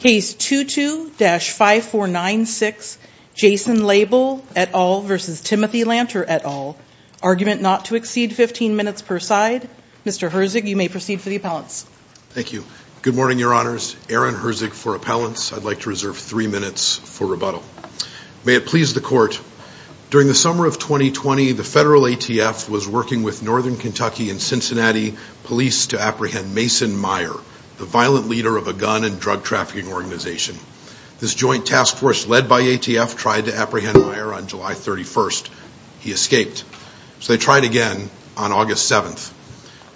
Case 22-5496, Jason Laible et al. v. Timothy Lanter et al. Argument not to exceed 15 minutes per side. Mr. Herzig, you may proceed for the appellants. Thank you. Good morning, Your Honors. Aaron Herzig for appellants. I'd like to reserve three minutes for rebuttal. May it please the court. During the summer of 2020, the federal ATF was working with Northern Kentucky and Cincinnati police to apprehend Mason Meyer, the violent leader of a gun and drug trafficking organization. This joint task force led by ATF tried to apprehend Meyer on July 31st. He escaped, so they tried again on August 7th.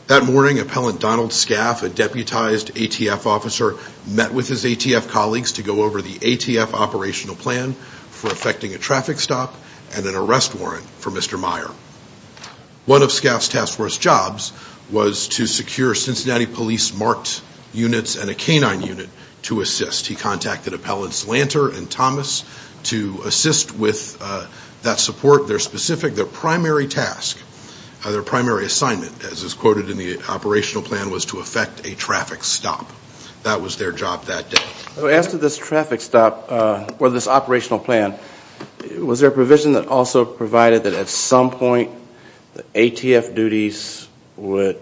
That morning, Appellant Donald Scaff, a deputized ATF officer, met with his ATF colleagues to go over the ATF operational plan for effecting a traffic stop and an arrest warrant for Cincinnati police marked units and a canine unit to assist. He contacted Appellants Lanter and Thomas to assist with that support. Their specific, their primary task, their primary assignment, as is quoted in the operational plan, was to effect a traffic stop. That was their job that day. As to this traffic stop or this operational plan, was there a provision that also provided that at some point the ATF duties would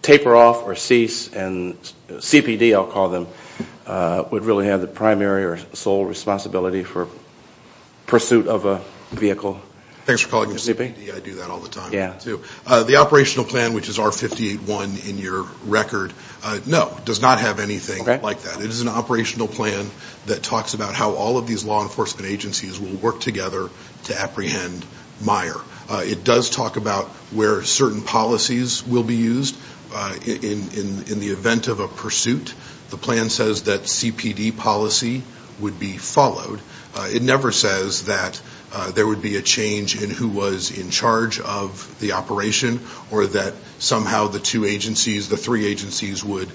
taper off or cease and CPD, I'll call them, would really have the primary or sole responsibility for pursuit of a vehicle? Thanks for calling me CPD, I do that all the time. The operational plan, which is R58-1 in your record, no, does not have anything like that. It is an operational plan that talks about how all of these law enforcement agencies will work together. It does talk about where certain policies will be used in the event of a pursuit. The plan says that CPD policy would be followed. It never says that there would be a change in who was in charge of the operation or that somehow the two agencies, the three agencies, would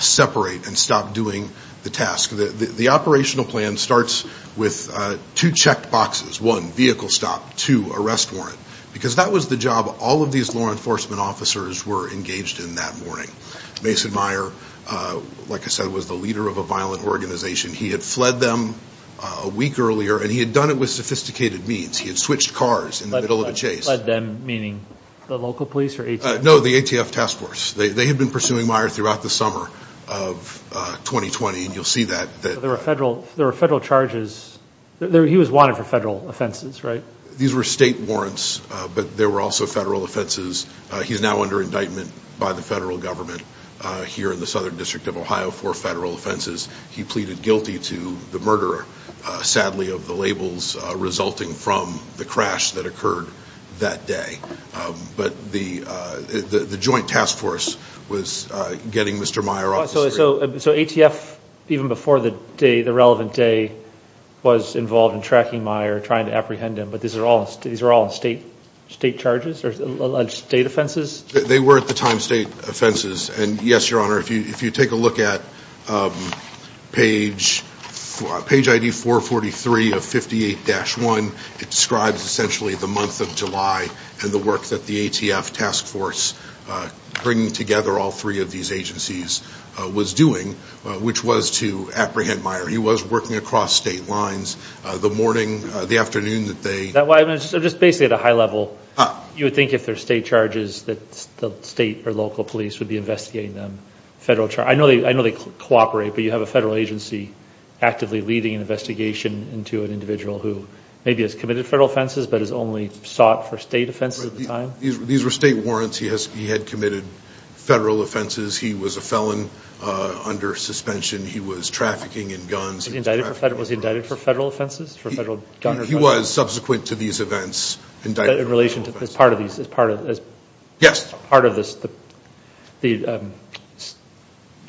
separate and stop doing the task. The operational plan starts with two check boxes. One, vehicle stop. Two, arrest warrant. Because that was the job all of these law enforcement officers were engaged in that morning. Mason Meyer, like I said, was the leader of a violent organization. He had fled them a week earlier and he had done it with sophisticated means. He had switched cars in the middle of a chase. Fled them meaning the local police or ATF? No, the ATF task force. They had been pursuing Meyer throughout the summer of 2020 and you'll see that. There were federal charges. He was wanted for federal offenses, right? These were state warrants but there were also federal offenses. He's now under indictment by the federal government here in the Southern District of Ohio for federal offenses. He pleaded guilty to the murderer, sadly, of the labels resulting from the crash that occurred that day. But the joint task force was getting Mr. Meyer off the street. So ATF even before the day, the relevant day, was involved in these were all state charges or state offenses? They were at the time state offenses and yes, your honor, if you take a look at page ID 443 of 58-1, it describes essentially the month of July and the work that the ATF task force bringing together all three of these agencies was doing, which was to apprehend Meyer. He was working across state lines the morning, the afternoon that they... So just basically at a high level, you would think if they're state charges, that the state or local police would be investigating them. I know they cooperate but you have a federal agency actively leading an investigation into an individual who maybe has committed federal offenses but has only sought for state offenses at the time? These were state warrants. He had committed federal offenses. He was a felon under suspension. He was trafficking in guns. Was he indicted for federal offenses? He was, subsequent to these events, indicted for federal offenses. But in relation to this part of these, as part of this, the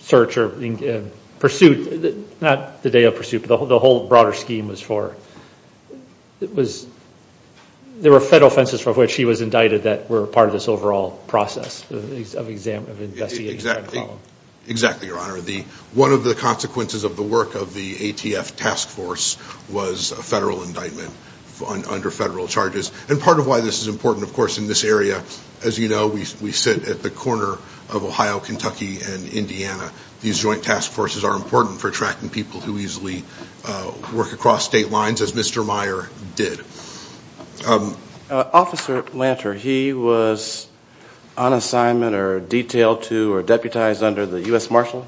search or pursuit, not the day of pursuit, but the whole broader scheme was for, it was, there were federal offenses for which he was indicted that were part of this overall process of investigation. Exactly, your honor. One of the ATF task force was a federal indictment under federal charges. And part of why this is important, of course, in this area, as you know, we sit at the corner of Ohio, Kentucky, and Indiana. These joint task forces are important for tracking people who easily work across state lines as Mr. Meyer did. Officer Lanter, he was on assignment or detailed to or deputized under the U.S. Marshal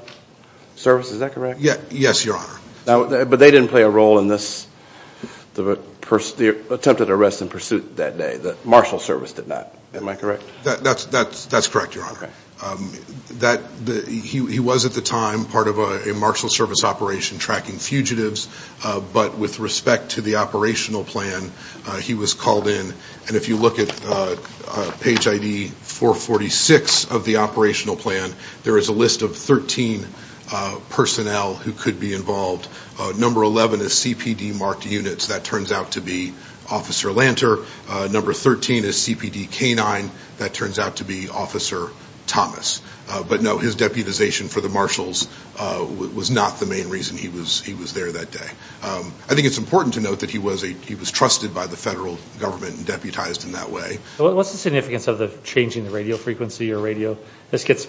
Service, is that correct? Yes, your honor. But they didn't play a role in this, the attempted arrest and pursuit that day. The Marshal Service did not, am I correct? That's correct, your honor. He was, at the time, part of a Marshal Service operation tracking fugitives. But with respect to the operational plan, he was called in. And if you look at page ID 446 of the plan, there are 13 personnel who could be involved. Number 11 is CPD marked units. That turns out to be Officer Lanter. Number 13 is CPD K-9. That turns out to be Officer Thomas. But no, his deputization for the marshals was not the main reason he was there that day. I think it's important to note that he was trusted by the federal government and deputized in that way. What's the significance of the changing the radio frequency or radio? This gets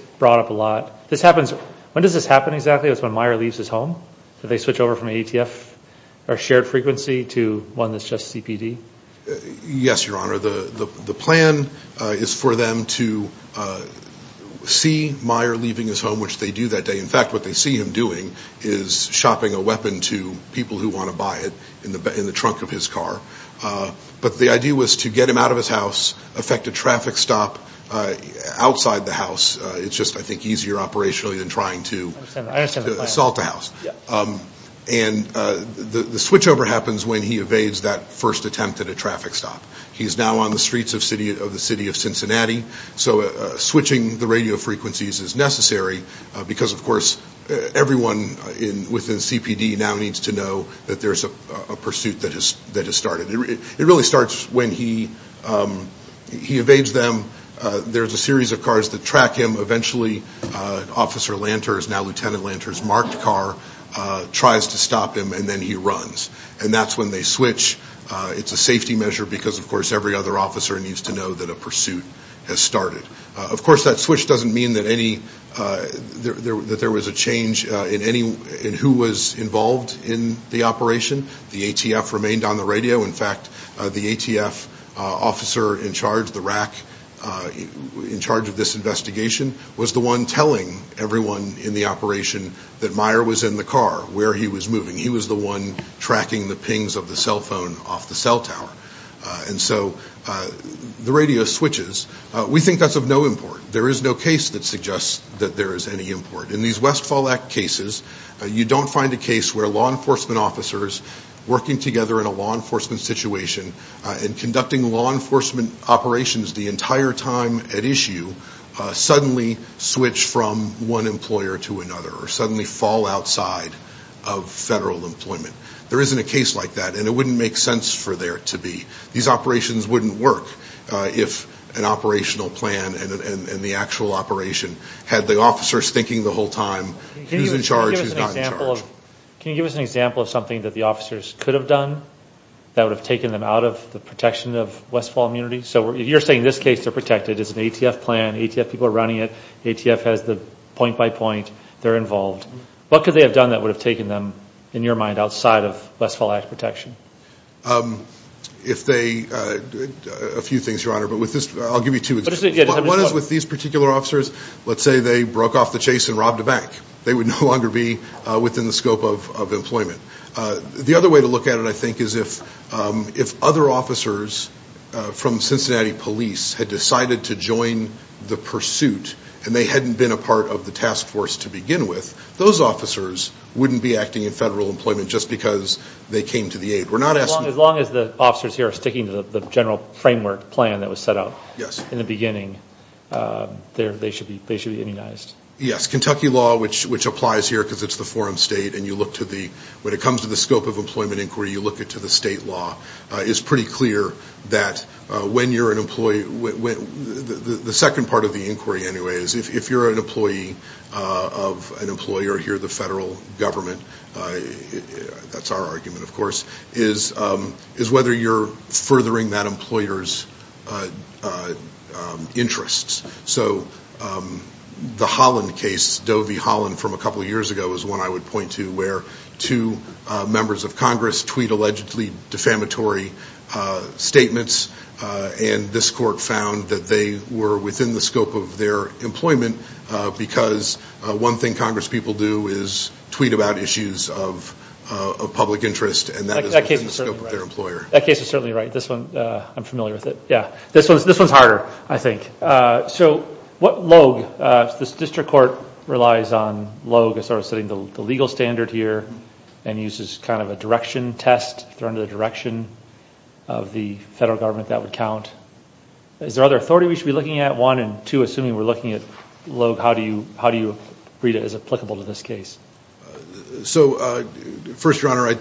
does this happen exactly when Meyer leaves his home? Do they switch over from ATF or shared frequency to one that's just CPD? Yes, your honor. The plan is for them to see Meyer leaving his home, which they do that day. In fact, what they see him doing is shopping a weapon to people who want to buy it in the trunk of his car. But the idea was to get him out of his house, affect a traffic stop outside the house. It's just, I think, easier operationally than trying to assault a house. The switchover happens when he evades that first attempt at a traffic stop. He's now on the streets of the city of Cincinnati. So switching the radio frequencies is necessary because, of course, everyone within CPD now needs to know that there's a pursuit that has started. There's a series of cars that track him. Eventually, Officer Lanter, now Lieutenant Lanter's marked car, tries to stop him and then he runs. And that's when they switch. It's a safety measure because, of course, every other officer needs to know that a pursuit has started. Of course, that switch doesn't mean that there was a change in who was involved in the operation. The ATF remained on the radio. In fact, the ATF officer in charge, the RAC in charge of this investigation, was the one telling everyone in the operation that Meyer was in the car, where he was moving. He was the one tracking the pings of the cell phone off the cell tower. And so the radio switches. We think that's of no import. There is no case that suggests that there is any import. In these West officers working together in a law enforcement situation and conducting law enforcement operations the entire time at issue, suddenly switch from one employer to another or suddenly fall outside of federal employment. There isn't a case like that and it wouldn't make sense for there to be. These operations wouldn't work if an operational plan and the actual operation had the officers thinking the whole time who's in charge, who's not in charge. Can you give us an example of something that the officers could have done that would have taken them out of the protection of Westfall immunity? So you're saying this case they're protected. It's an ATF plan. ATF people are running it. ATF has the point-by-point. They're involved. What could they have done that would have taken them, in your mind, outside of Westfall Act protection? A few things, Your Honor. I'll give you two examples. One is with these particular officers. Let's say they broke off the chase and robbed a bank. They would no longer be within the scope of employment. The other way to look at it, I think, is if other officers from Cincinnati police had decided to join the pursuit and they hadn't been a part of the task force to begin with, those officers wouldn't be acting in federal employment just because they came to the aid. As long as the officers here are sticking to the general framework plan that was set out in the beginning, they should be immunized. Yes. Kentucky law, which applies here because it's the forum state, and you look to the, when it comes to the scope of employment inquiry, you look it to the state law, is pretty clear that when you're an employee, the second part of the inquiry anyway, is if you're an employee of an employer here, the federal government, that's our argument of course, is whether you're furthering that Doe v. Holland from a couple years ago is one I would point to where two members of Congress tweet allegedly defamatory statements and this court found that they were within the scope of their employment because one thing Congress people do is tweet about issues of public interest and that is within the scope of their employer. That case is certainly right. This one, I'm familiar with it. Yeah, this one's harder, I think. So what LOAG, this district court relies on LOAG as sort of setting the legal standard here and uses kind of a direction test, if they're under the direction of the federal government, that would count. Is there other authority we should be looking at? One, and two, assuming we're looking at LOAG, how do you, how do you read it as applicable to this case? So first, your honor, I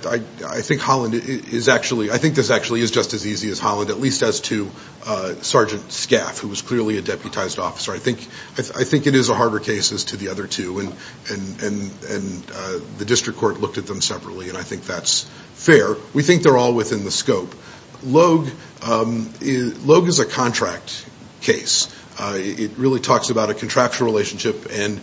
think Holland is actually, I think this actually is just as easy as Holland, at least as to Sgt. Scaff, who was clearly a deputized officer. I think, I think it is a harder case as to the other two and, and, and the district court looked at them separately and I think that's fair. We think they're all within the scope. LOAG, LOAG is a contract case. It really talks about a contractual relationship and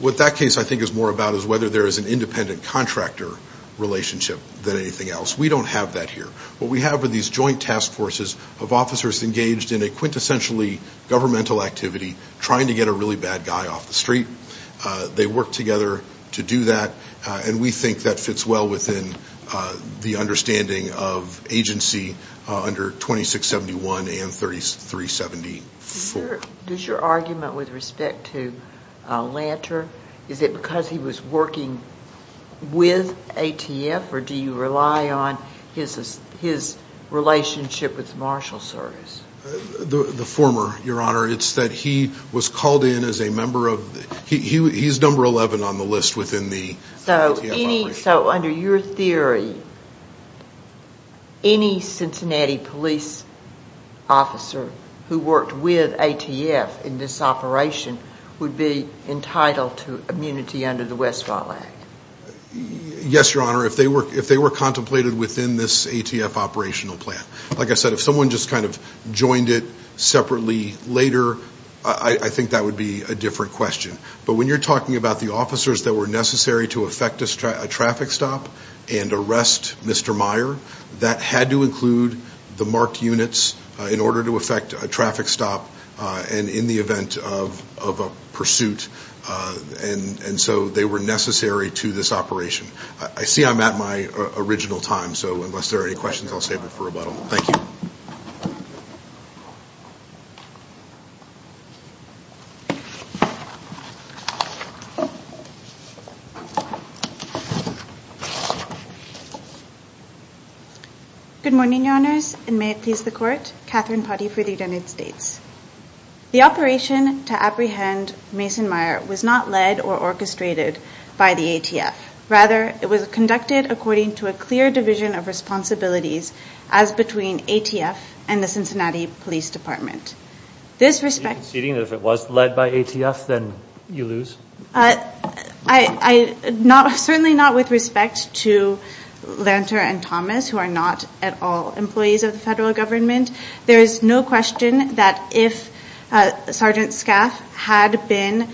what that case I think is more about is whether there is an independent contractor relationship than anything else. We don't have that here. What we have are these joint task forces of officers engaged in a quintessentially governmental activity trying to get a really bad guy off the street. They work together to do that and we think that fits well within the understanding of agency under 2671 and 3370. Does your argument with respect to Lanter, is it because he was working with ATF or do you rely on his, his relationship with the marshal service? The former, your honor. It's that he was called in as a member of, he, he's number 11 on the list within the ATF operation. So any, so under your theory, any Cincinnati police officer who worked with ATF in this operation would be entitled to immunity under the Westfall Act? Yes, your honor. If they were, if they were contemplated within this ATF operational plan. Like I said, if someone just kind of joined it separately later, I think that would be a different question. But when you're talking about the officers that were necessary to affect a traffic stop and arrest Mr. Meyer, that had to include the marked units in order to affect a traffic stop and in the event of, of a pursuit. And, and so they were necessary to this operation. I see I'm at my original time. So unless there are any questions, I'll save it for rebuttal. Thank you. Good morning, your honors. And may it please the court, Katherine Putty for the United States. The operation to apprehend Mason Meyer was not led or orchestrated by the ATF. Rather, it was conducted according to a clear division of responsibilities as between ATF and the Cincinnati Police Department. This respect... Are you conceding that if it was led by ATF, then you lose? I, I not, certainly not with respect to Lanter and Thomas, who are not at all employees of the federal government. There is no question that if Sergeant Scaff had been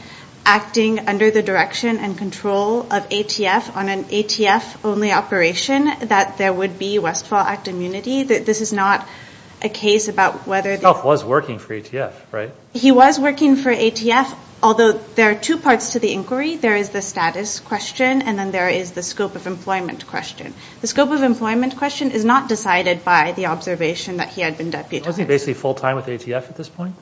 acting under the direction and control of ATF on an ATF only operation, that there would be Westfall Act immunity. This is not a case about whether... Scaff was working for ATF, right? He was working for ATF, although there are two parts to the inquiry. There is the status question and then there is the scope of employment question. The scope of employment question is not decided by the observation that he had been deputized. Wasn't he basically full-time with ATF at this point?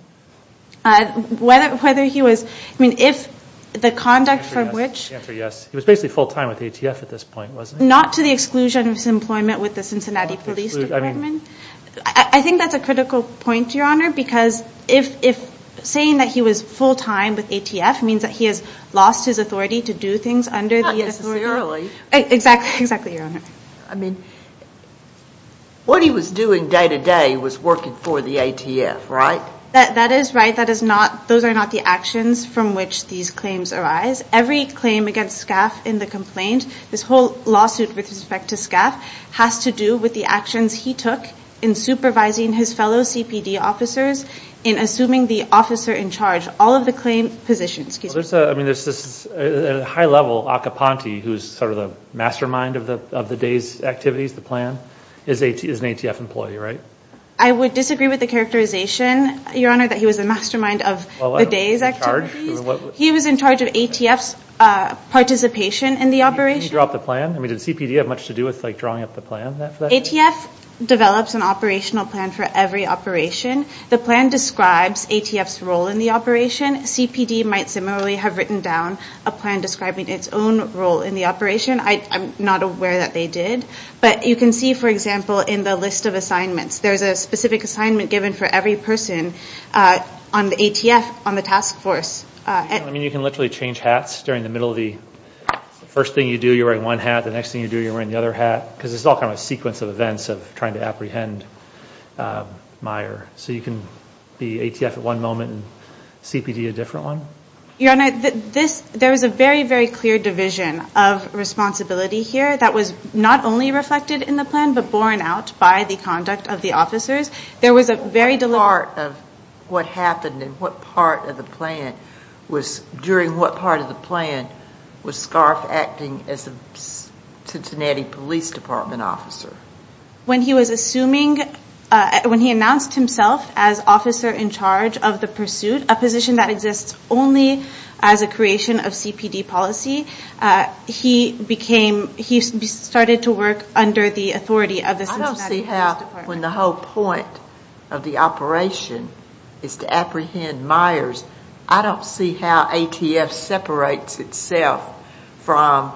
Whether, whether he was... I mean, if the conduct from which... Answer yes. Answer yes. He was basically full-time with ATF at this point, wasn't he? Not to the exclusion of his employment with the Cincinnati Police Department. I think that's a critical point, your honor, because if, if saying that he was full-time with ATF means that he has lost his authority to do things under the authority... Not necessarily. Exactly, exactly, your honor. I mean, what he was doing day to day was working for the ATF, right? That, that is right. That is not, those are not the actions from which these claims arise. Every claim against Scaff in the complaint, this whole lawsuit with respect to Scaff, has to do with the actions he took in supervising his fellow CPD officers, in assuming the officer in charge, all of the claim positions. There's a, I mean, there's this high-level Akaponte, who's sort of the mastermind of the, of the day's activities, the plan, is AT, is an ATF employee, right? I would disagree with the characterization, your honor, that he was the mastermind of the day's activities. He was in charge of ATF's participation in the operation. Did he draw up the plan? I mean, did CPD have much to do with, like, drawing up the plan for that? ATF develops an operational plan for every operation. The plan describes ATF's role in the operation. CPD might similarly have written down a plan describing its own role in the operation. I'm not aware that they did, but you can see, for example, in the list of assignments, there's a specific assignment given for every person on the ATF, on the task force. I mean, you can literally change hats during the middle of the, first thing you do, you're wearing one hat, the next thing you do, you're wearing the other hat, because it's all kind of a sequence of events of trying to apprehend Meyer. So you can be ATF at one moment and CPD a different one? Your honor, this, there was a very, very clear division of responsibility here that was not only reflected in the plan, but borne out by the conduct of the officers. There was a very deliberate... Part of what happened and what part of the plan was, during what part of the plan, was Scarfe acting as a Cincinnati Police Department officer? When he was assuming, when he announced himself as officer in charge of the pursuit, a position that exists only as a creation of CPD policy, he became, he started to work under the authority of the Cincinnati Police Department. I don't see how, when the whole point of the operation is to apprehend Myers, I don't see how ATF separates itself from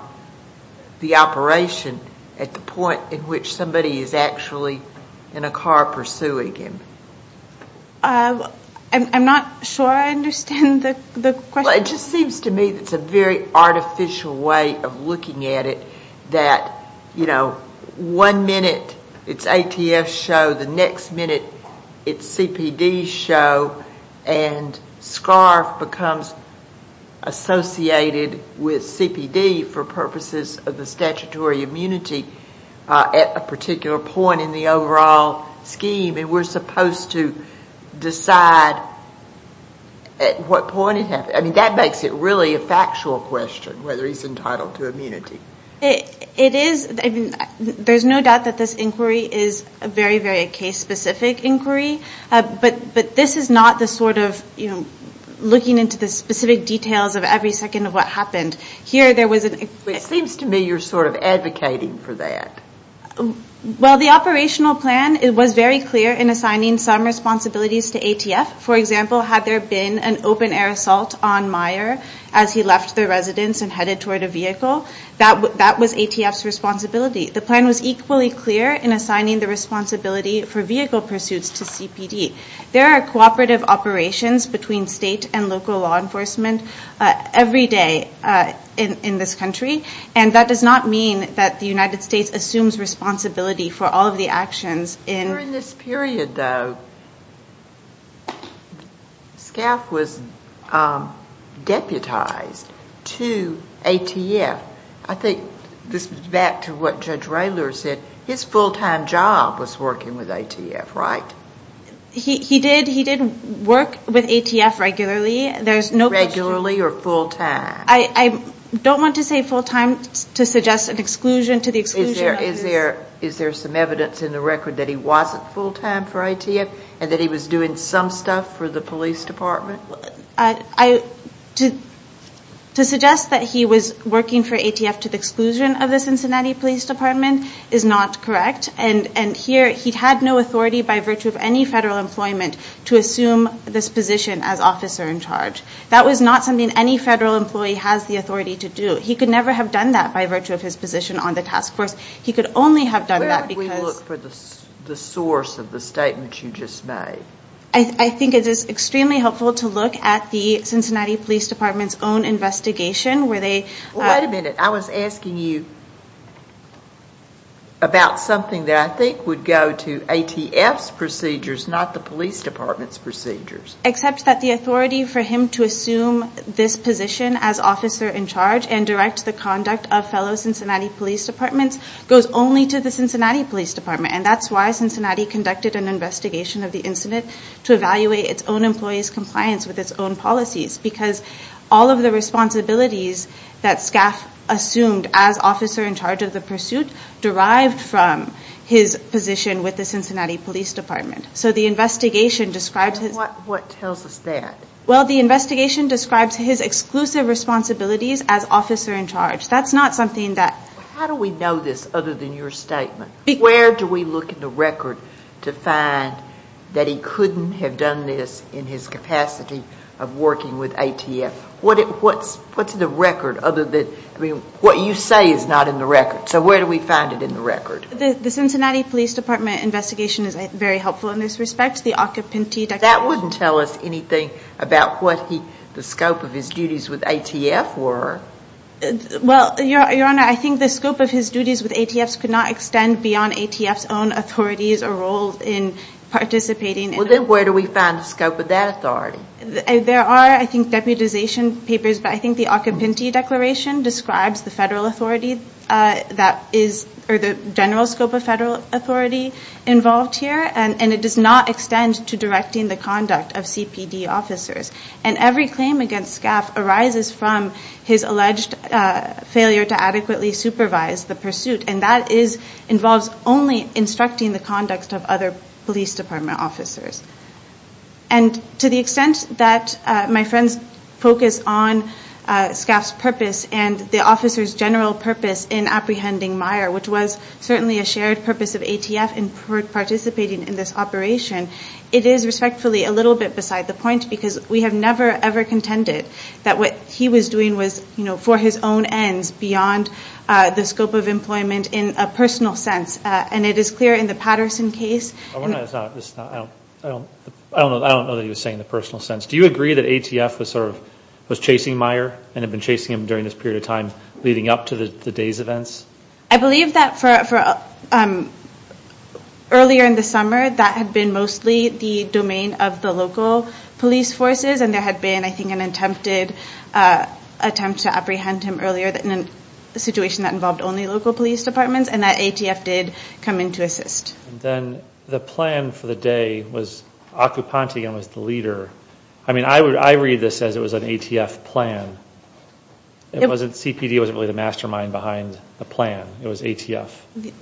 the possibility that somebody is actually in a car pursuing him. I'm not sure I understand the question. It just seems to me that it's a very artificial way of looking at it, that, you know, one minute it's ATF's show, the next minute it's CPD's show, and Scarfe becomes associated with CPD for purposes of the statutory immunity at a particular time. point in the overall scheme, and we're supposed to decide at what point it happened. I mean, that makes it really a factual question, whether he's entitled to immunity. It is, I mean, there's no doubt that this inquiry is a very, very case-specific inquiry, but this is not the sort of, you know, looking into the specific details of every second of what happened. Here, there was an... It seems to me you're sort of advocating for that. Well, the operational plan, it was very clear in assigning some responsibilities to ATF. For example, had there been an open-air assault on Meyer as he left the residence and headed toward a vehicle, that was ATF's responsibility. The plan was equally clear in assigning the responsibility for vehicle pursuits to CPD. There are cooperative operations between state and local law enforcement every day in this country, and that does not mean that the United States assumes that ATF is responsible for that. During this period, though, Scaff was deputized to ATF. I think this is back to what Judge Raylor said. His full-time job was working with ATF, right? He did work with ATF regularly. There's no question... Regularly or full-time? I don't want to say full-time to suggest an exclusion to the exclusion... Is there some evidence in the record that he wasn't full-time for ATF and that he was doing some stuff for the police department? To suggest that he was working for ATF to the exclusion of the Cincinnati Police Department is not correct, and here he had no authority by virtue of any federal employment to assume this position as officer in charge. That was not something any federal employee has the authority to do. He could never have done that by virtue of his position on the task force. He could only have done that because... Where would we look for the source of the statement you just made? I think it is extremely helpful to look at the Cincinnati Police Department's own investigation where they... Wait a minute. I was asking you about something that I think would go to ATF's procedures, not the police department's procedures. Except that the authority for him to assume this position as officer in charge and direct the conduct of fellow Cincinnati Police Departments goes only to the Cincinnati Police Department. And that's why Cincinnati conducted an investigation of the incident to evaluate its own employees' compliance with its own policies. Because all of the responsibilities that Scaff assumed as officer in charge of the pursuit derived from his position with the Cincinnati Police Department. What tells us that? Well, the investigation describes his exclusive responsibilities as officer in charge. That's not something that... How do we know this other than your statement? Where do we look in the record to find that he couldn't have done this in his capacity of working with ATF? What's in the record other than... I mean, what you say is not in the record. So where do we find it in the record? The Cincinnati Police Department investigation is very helpful in this respect. The occupantee... That wouldn't tell us anything about what the scope of his duties with ATF were. Well, Your Honor, I think the scope of his duties with ATF could not extend beyond ATF's own authorities or role in participating in... Well, then where do we find the scope of that authority? There are, I think, deputization papers, but I think the occupantee declaration describes the federal authority that is... or the general scope of federal authority involved here. And it does not extend to directing the conduct of CPD officers. And every claim against Scaff arises from his alleged failure to adequately supervise the pursuit. And that involves only instructing the conduct of other police department officers. And to the extent that my friends focus on Scaff's purpose and the officer's general purpose in apprehending Meyer, which was certainly a shared purpose of ATF in participating in this operation, it is respectfully a little bit beside the point because we have never, ever contended that what he was doing was, you know, for his own ends beyond the scope of employment in a personal sense. And it is clear in the Patterson case... I don't know that he was saying the personal sense. Do you agree that ATF was sort of... was chasing Meyer and had been chasing him during this period of time leading up to the day's events? I believe that for... earlier in the summer, that had been mostly the domain of the local police forces. And there had been, I think, an attempted attempt to apprehend him earlier in a situation that involved only local police departments. And that ATF did come in to assist. And then the plan for the day was Occupantigan was the leader. I mean, I read this as it was an ATF plan. It wasn't... CPD wasn't really the mastermind behind the plan. It was ATF.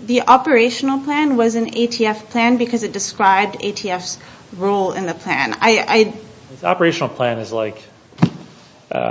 The operational plan was an ATF plan because it described ATF's role in the plan. The operational plan is like, I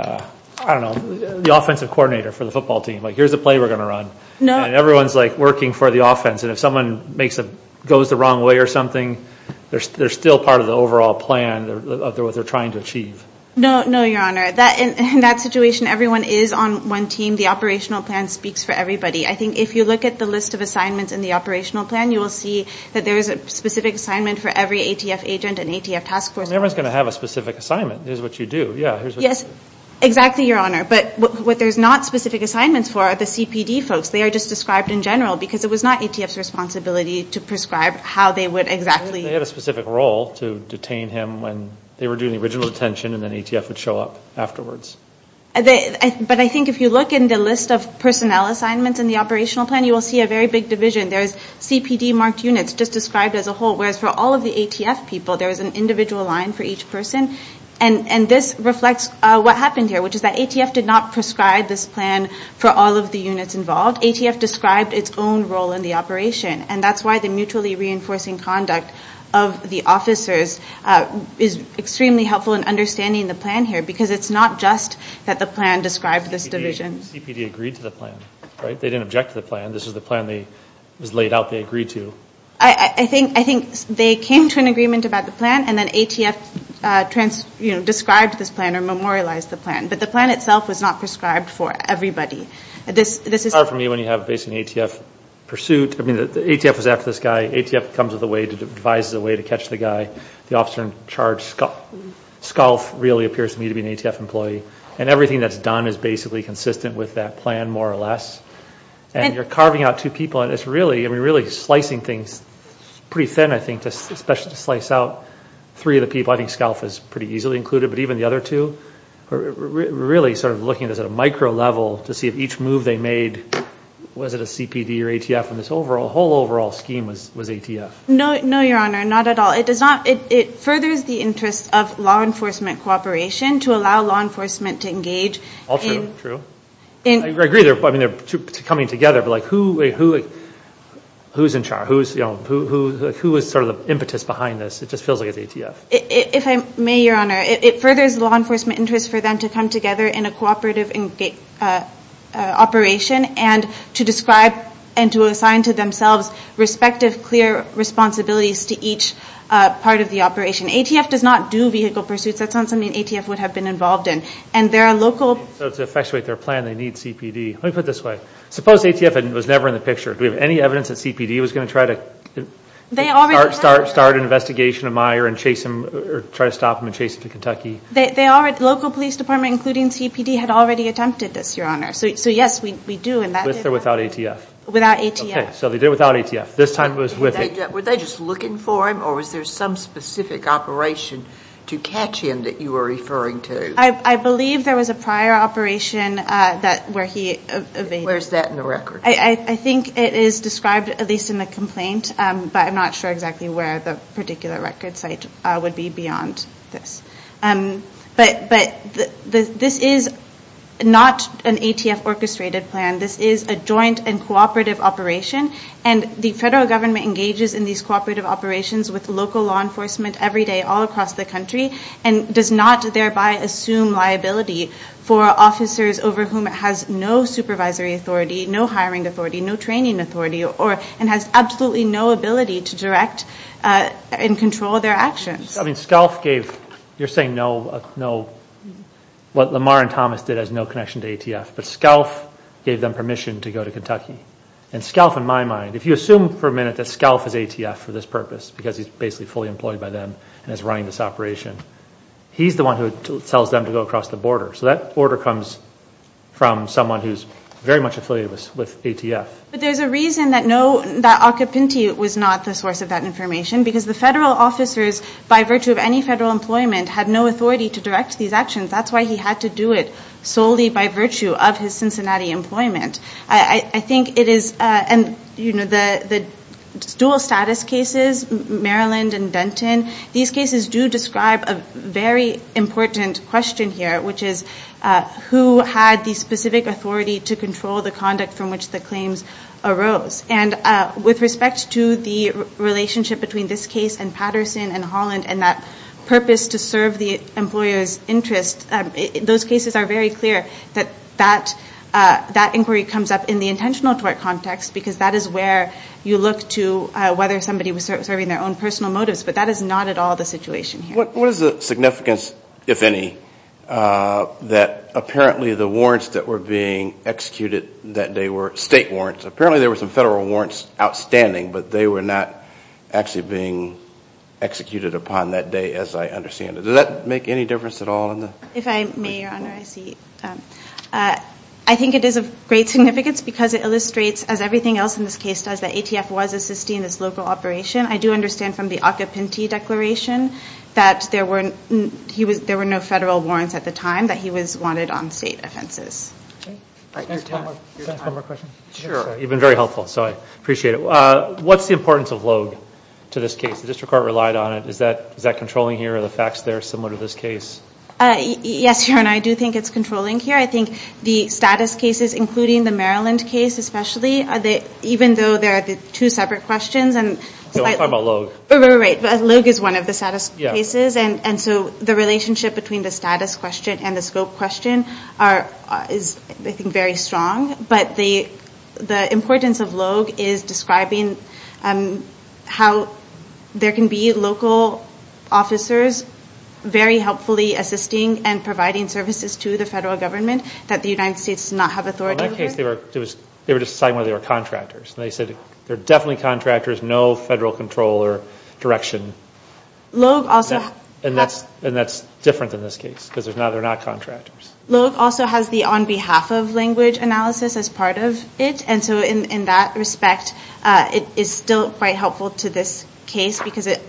don't know, the offensive coordinator for the football team. Like, here's the play we're going to run. And everyone's, like, working for the offense. And if someone makes a... goes the wrong way or something, they're still part of the overall plan of what they're trying to achieve. No, no, Your Honor. In that situation, everyone is on one team. The operational plan speaks for everybody. I think if you look at the list of assignments in the operational plan, you will see that there is a specific assignment for every ATF agent and ATF task force. Everyone's going to have a specific assignment. Here's what you do. Yeah, here's what you do. Yes, exactly, Your Honor. But what there's not specific assignments for are the CPD folks. They are just described in general because it was not ATF's responsibility to prescribe how they would exactly... They had a specific role to detain him when they were doing the original detention and then ATF would show up afterwards. But I think if you look in the list of personnel assignments in the operational plan, you will see a very big division. There's CPD-marked units just described as a whole, whereas for all of the ATF people, there is an individual line for each person. And this reflects what happened here, which is that ATF did not prescribe this plan for all of the units involved. ATF described its own role in the operation, and that's why the mutually reinforcing conduct of the officers is extremely helpful in understanding the plan here because it's not just that the plan described this division. CPD agreed to the plan, right? They didn't object to the plan. This is the plan that was laid out they agreed to. I think they came to an agreement about the plan, and then ATF described this plan or memorialized the plan. But the plan itself was not prescribed for everybody. It's hard for me when you have basically an ATF pursuit. I mean, ATF was after this guy. ATF comes with a way to devise a way to catch the guy. The officer in charge, Scalf, really appears to me to be an ATF employee. And everything that's done is basically consistent with that plan, more or less. And you're carving out two people, and it's really slicing things pretty thin, I think, especially to slice out three of the people. I think Scalf is pretty easily included, but even the other two. We're really sort of looking at this at a micro level to see if each move they made, was it a CPD or ATF? And this whole overall scheme was ATF. No, Your Honor. Not at all. It furthers the interest of law enforcement cooperation to allow law enforcement to engage. All true. I agree they're coming together, but who is in charge? Who is sort of the impetus behind this? It just feels like it's ATF. If I may, Your Honor, it furthers law enforcement interest for them to come together in a cooperative operation and to describe and to assign to themselves respective clear responsibilities to each part of the operation. ATF does not do vehicle pursuits. That's not something ATF would have been involved in. So to effectuate their plan, they need CPD. Let me put it this way. Suppose ATF was never in the picture. Do we have any evidence that CPD was going to try to start an investigation of Meyer and try to stop him and chase him to Kentucky? Local police department, including CPD, had already attempted this, Your Honor. So yes, we do. With or without ATF? Without ATF. Okay. So they did it without ATF. This time it was with ATF. Were they just looking for him, or was there some specific operation to catch him that you were referring to? I believe there was a prior operation where he evaded. Where is that in the record? I think it is described, at least in the complaint, but I'm not sure exactly where the particular record site would be beyond this. But this is not an ATF orchestrated plan. This is a joint and cooperative operation, and the federal government engages in these cooperative operations with local law enforcement every day all across the country and does not thereby assume liability for officers over whom it has no supervisory authority, no hiring authority, no training authority, and has absolutely no ability to direct and control their actions. I mean, SCALF gave, you're saying no, what Lamar and Thomas did has no connection to ATF, but SCALF gave them permission to go to Kentucky. And SCALF, in my mind, if you assume for a minute that SCALF is ATF for this purpose because he's basically fully employed by them and is running this operation, he's the one who tells them to go across the border. So that order comes from someone who's very much affiliated with ATF. But there's a reason that Acapinti was not the source of that information because the federal officers, by virtue of any federal employment, had no authority to direct these actions. That's why he had to do it solely by virtue of his Cincinnati employment. I think it is, you know, the dual status cases, Maryland and Denton, these cases do describe a very important question here, which is who had the specific authority to control the conduct from which the claims arose. And with respect to the relationship between this case and Patterson and Holland and that purpose to serve the employer's interest, those cases are very clear that that inquiry comes up in the intentional tort context because that is where you look to whether somebody was serving their own personal motives. But that is not at all the situation here. What is the significance, if any, that apparently the warrants that were being executed that day were state warrants? Apparently there were some federal warrants outstanding, but they were not actually being executed upon that day as I understand it. Does that make any difference at all? If I may, Your Honor, I see. I think it is of great significance because it illustrates, as everything else in this case does, that ATF was assisting this local operation. I do understand from the Acapinti declaration that there were no federal warrants at the time, that he was wanted on state offenses. Can I ask one more question? Sure. You have been very helpful, so I appreciate it. What is the importance of Logue to this case? The district court relied on it. Is that controlling here? Are the facts there similar to this case? Yes, Your Honor, I do think it is controlling here. I think the status cases, including the Maryland case especially, even though they are the two separate questions. I am talking about Logue. Right. Logue is one of the status cases. The relationship between the status question and the scope question is, I think, very strong. But the importance of Logue is describing how there can be local officers very helpfully assisting and providing services to the federal government that the United States does not have authority over. In that case, they were just deciding whether they were contractors. They said they are definitely contractors, no federal control or direction. And that is different in this case because they are not contractors. Logue also has the on behalf of language analysis as part of it. And so in that respect, it is still quite helpful to this case because it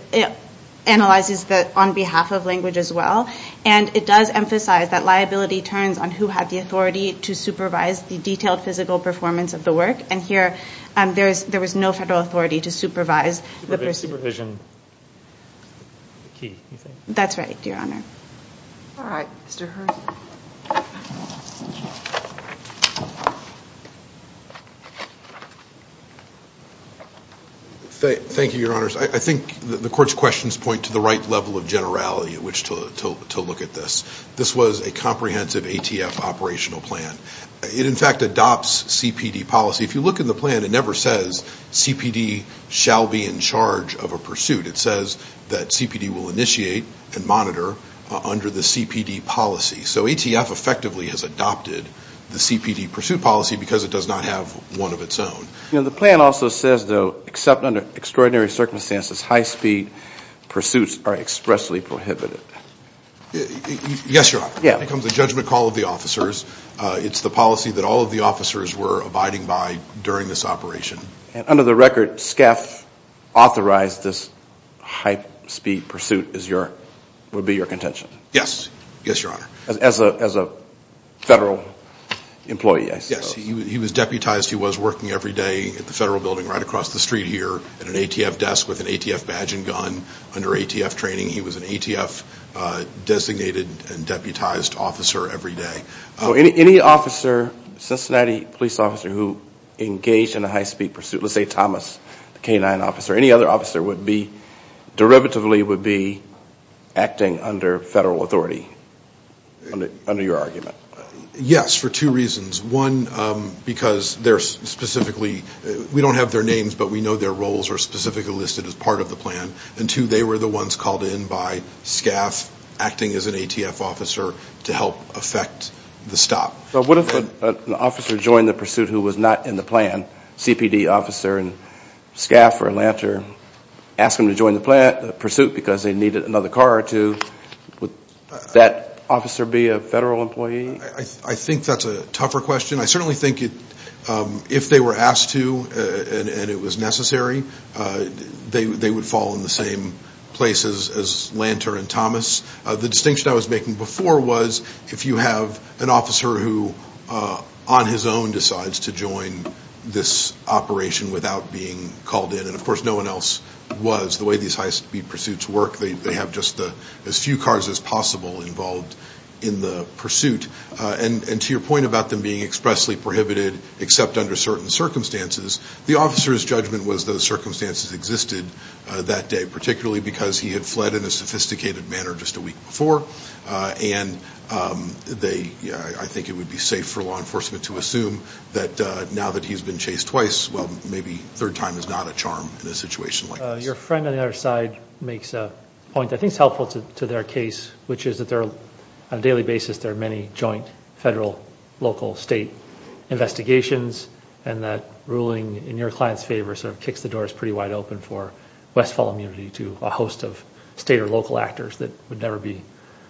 analyzes the on behalf of language as well. And it does emphasize that liability turns on who had the authority to supervise the detailed physical performance of the work. And here, there was no federal authority to supervise. Supervision is the key, you think? That is right, Your Honor. All right. Mr. Hearn. Thank you, Your Honors. I think the Court's questions point to the right level of generality to look at this. This was a comprehensive ATF operational plan. It, in fact, adopts CPD policy. If you look in the plan, it never says CPD shall be in charge of a pursuit. It says that CPD will initiate and monitor under the CPD policy. So ATF effectively has adopted the CPD pursuit policy because it does not have one of its own. The plan also says, though, except under extraordinary circumstances, high-speed pursuits are expressly prohibited. Yes, Your Honor. It becomes a judgment call of the officers. It's the policy that all of the officers were abiding by during this operation. Under the record, SCAF authorized this high-speed pursuit would be your contention? Yes. Yes, Your Honor. As a federal employee, I suppose. Yes. He was deputized. He was working every day at the federal building right across the street here at an ATF desk with an ATF badge and gun under ATF training. He was an ATF-designated and deputized officer every day. So any officer, Cincinnati police officer, who engaged in a high-speed pursuit, let's say Thomas, the canine officer, any other officer derivatively would be acting under federal authority under your argument? Yes, for two reasons. One, because they're specifically – we don't have their names, but we know their roles are specifically listed as part of the plan. And two, they were the ones called in by SCAF acting as an ATF officer to help effect the stop. But what if an officer joined the pursuit who was not in the plan, CPD officer, and SCAF or Atlanta asked them to join the pursuit because they needed another car or two, would that officer be a federal employee? I think that's a tougher question. I certainly think if they were asked to and it was necessary, they would fall in the same places as Lanter and Thomas. The distinction I was making before was if you have an officer who on his own decides to join this operation without being called in, and, of course, no one else was. The way these high-speed pursuits work, they have just as few cars as possible involved in the pursuit. And to your point about them being expressly prohibited except under certain circumstances, the officer's judgment was those circumstances existed that day, particularly because he had fled in a sophisticated manner just a week before. And I think it would be safe for law enforcement to assume that now that he's been chased twice, well, maybe a third time is not a charm in a situation like this. Your friend on the other side makes a point that I think is helpful to their case, which is that on a daily basis there are many joint federal-local-state investigations and that ruling in your client's favor sort of kicks the doors pretty wide open for Westfall immunity to a host of state or local actors that would never be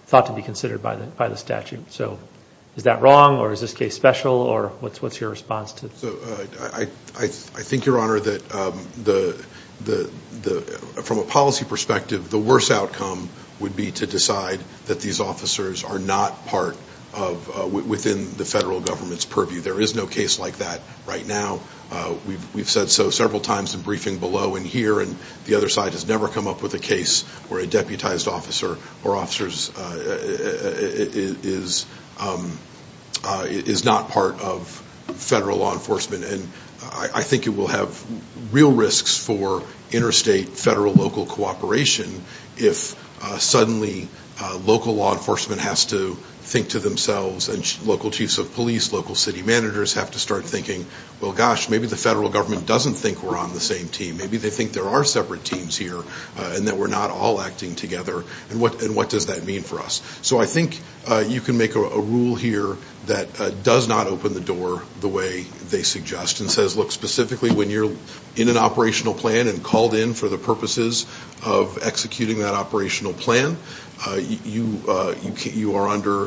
thought to be considered by the statute. So is that wrong or is this case special or what's your response to it? I think, Your Honor, that from a policy perspective, the worst outcome would be to decide that these officers are not part of within the federal government's purview. There is no case like that right now. We've said so several times in briefing below and here, and the other side has never come up with a case where a deputized officer or officers is not part of federal law enforcement. And I think it will have real risks for interstate federal-local cooperation if suddenly local law enforcement has to think to themselves and local chiefs of police, local city managers have to start thinking, well, gosh, maybe the federal government doesn't think we're on the same team. Maybe they think there are separate teams here and that we're not all acting together. And what does that mean for us? So I think you can make a rule here that does not open the door the way they suggest and says, look, specifically when you're in an operational plan and called in for the purposes of executing that operational plan, you are under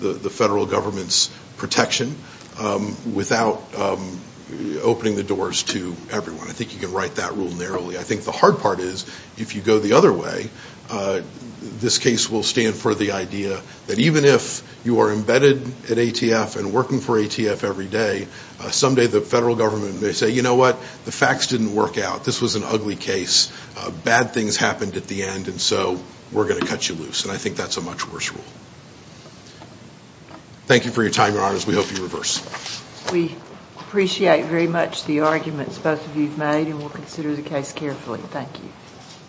the federal government's protection without opening the doors to everyone. I think you can write that rule narrowly. I think the hard part is if you go the other way, this case will stand for the idea that even if you are embedded at ATF and working for ATF every day, someday the federal government may say, you know what, the facts didn't work out. This was an ugly case. Bad things happened at the end, and so we're going to cut you loose. And I think that's a much worse rule. Thank you for your time, Your Honors. We hope you reverse. We appreciate very much the arguments both of you have made, and we'll consider the case carefully. Thank you.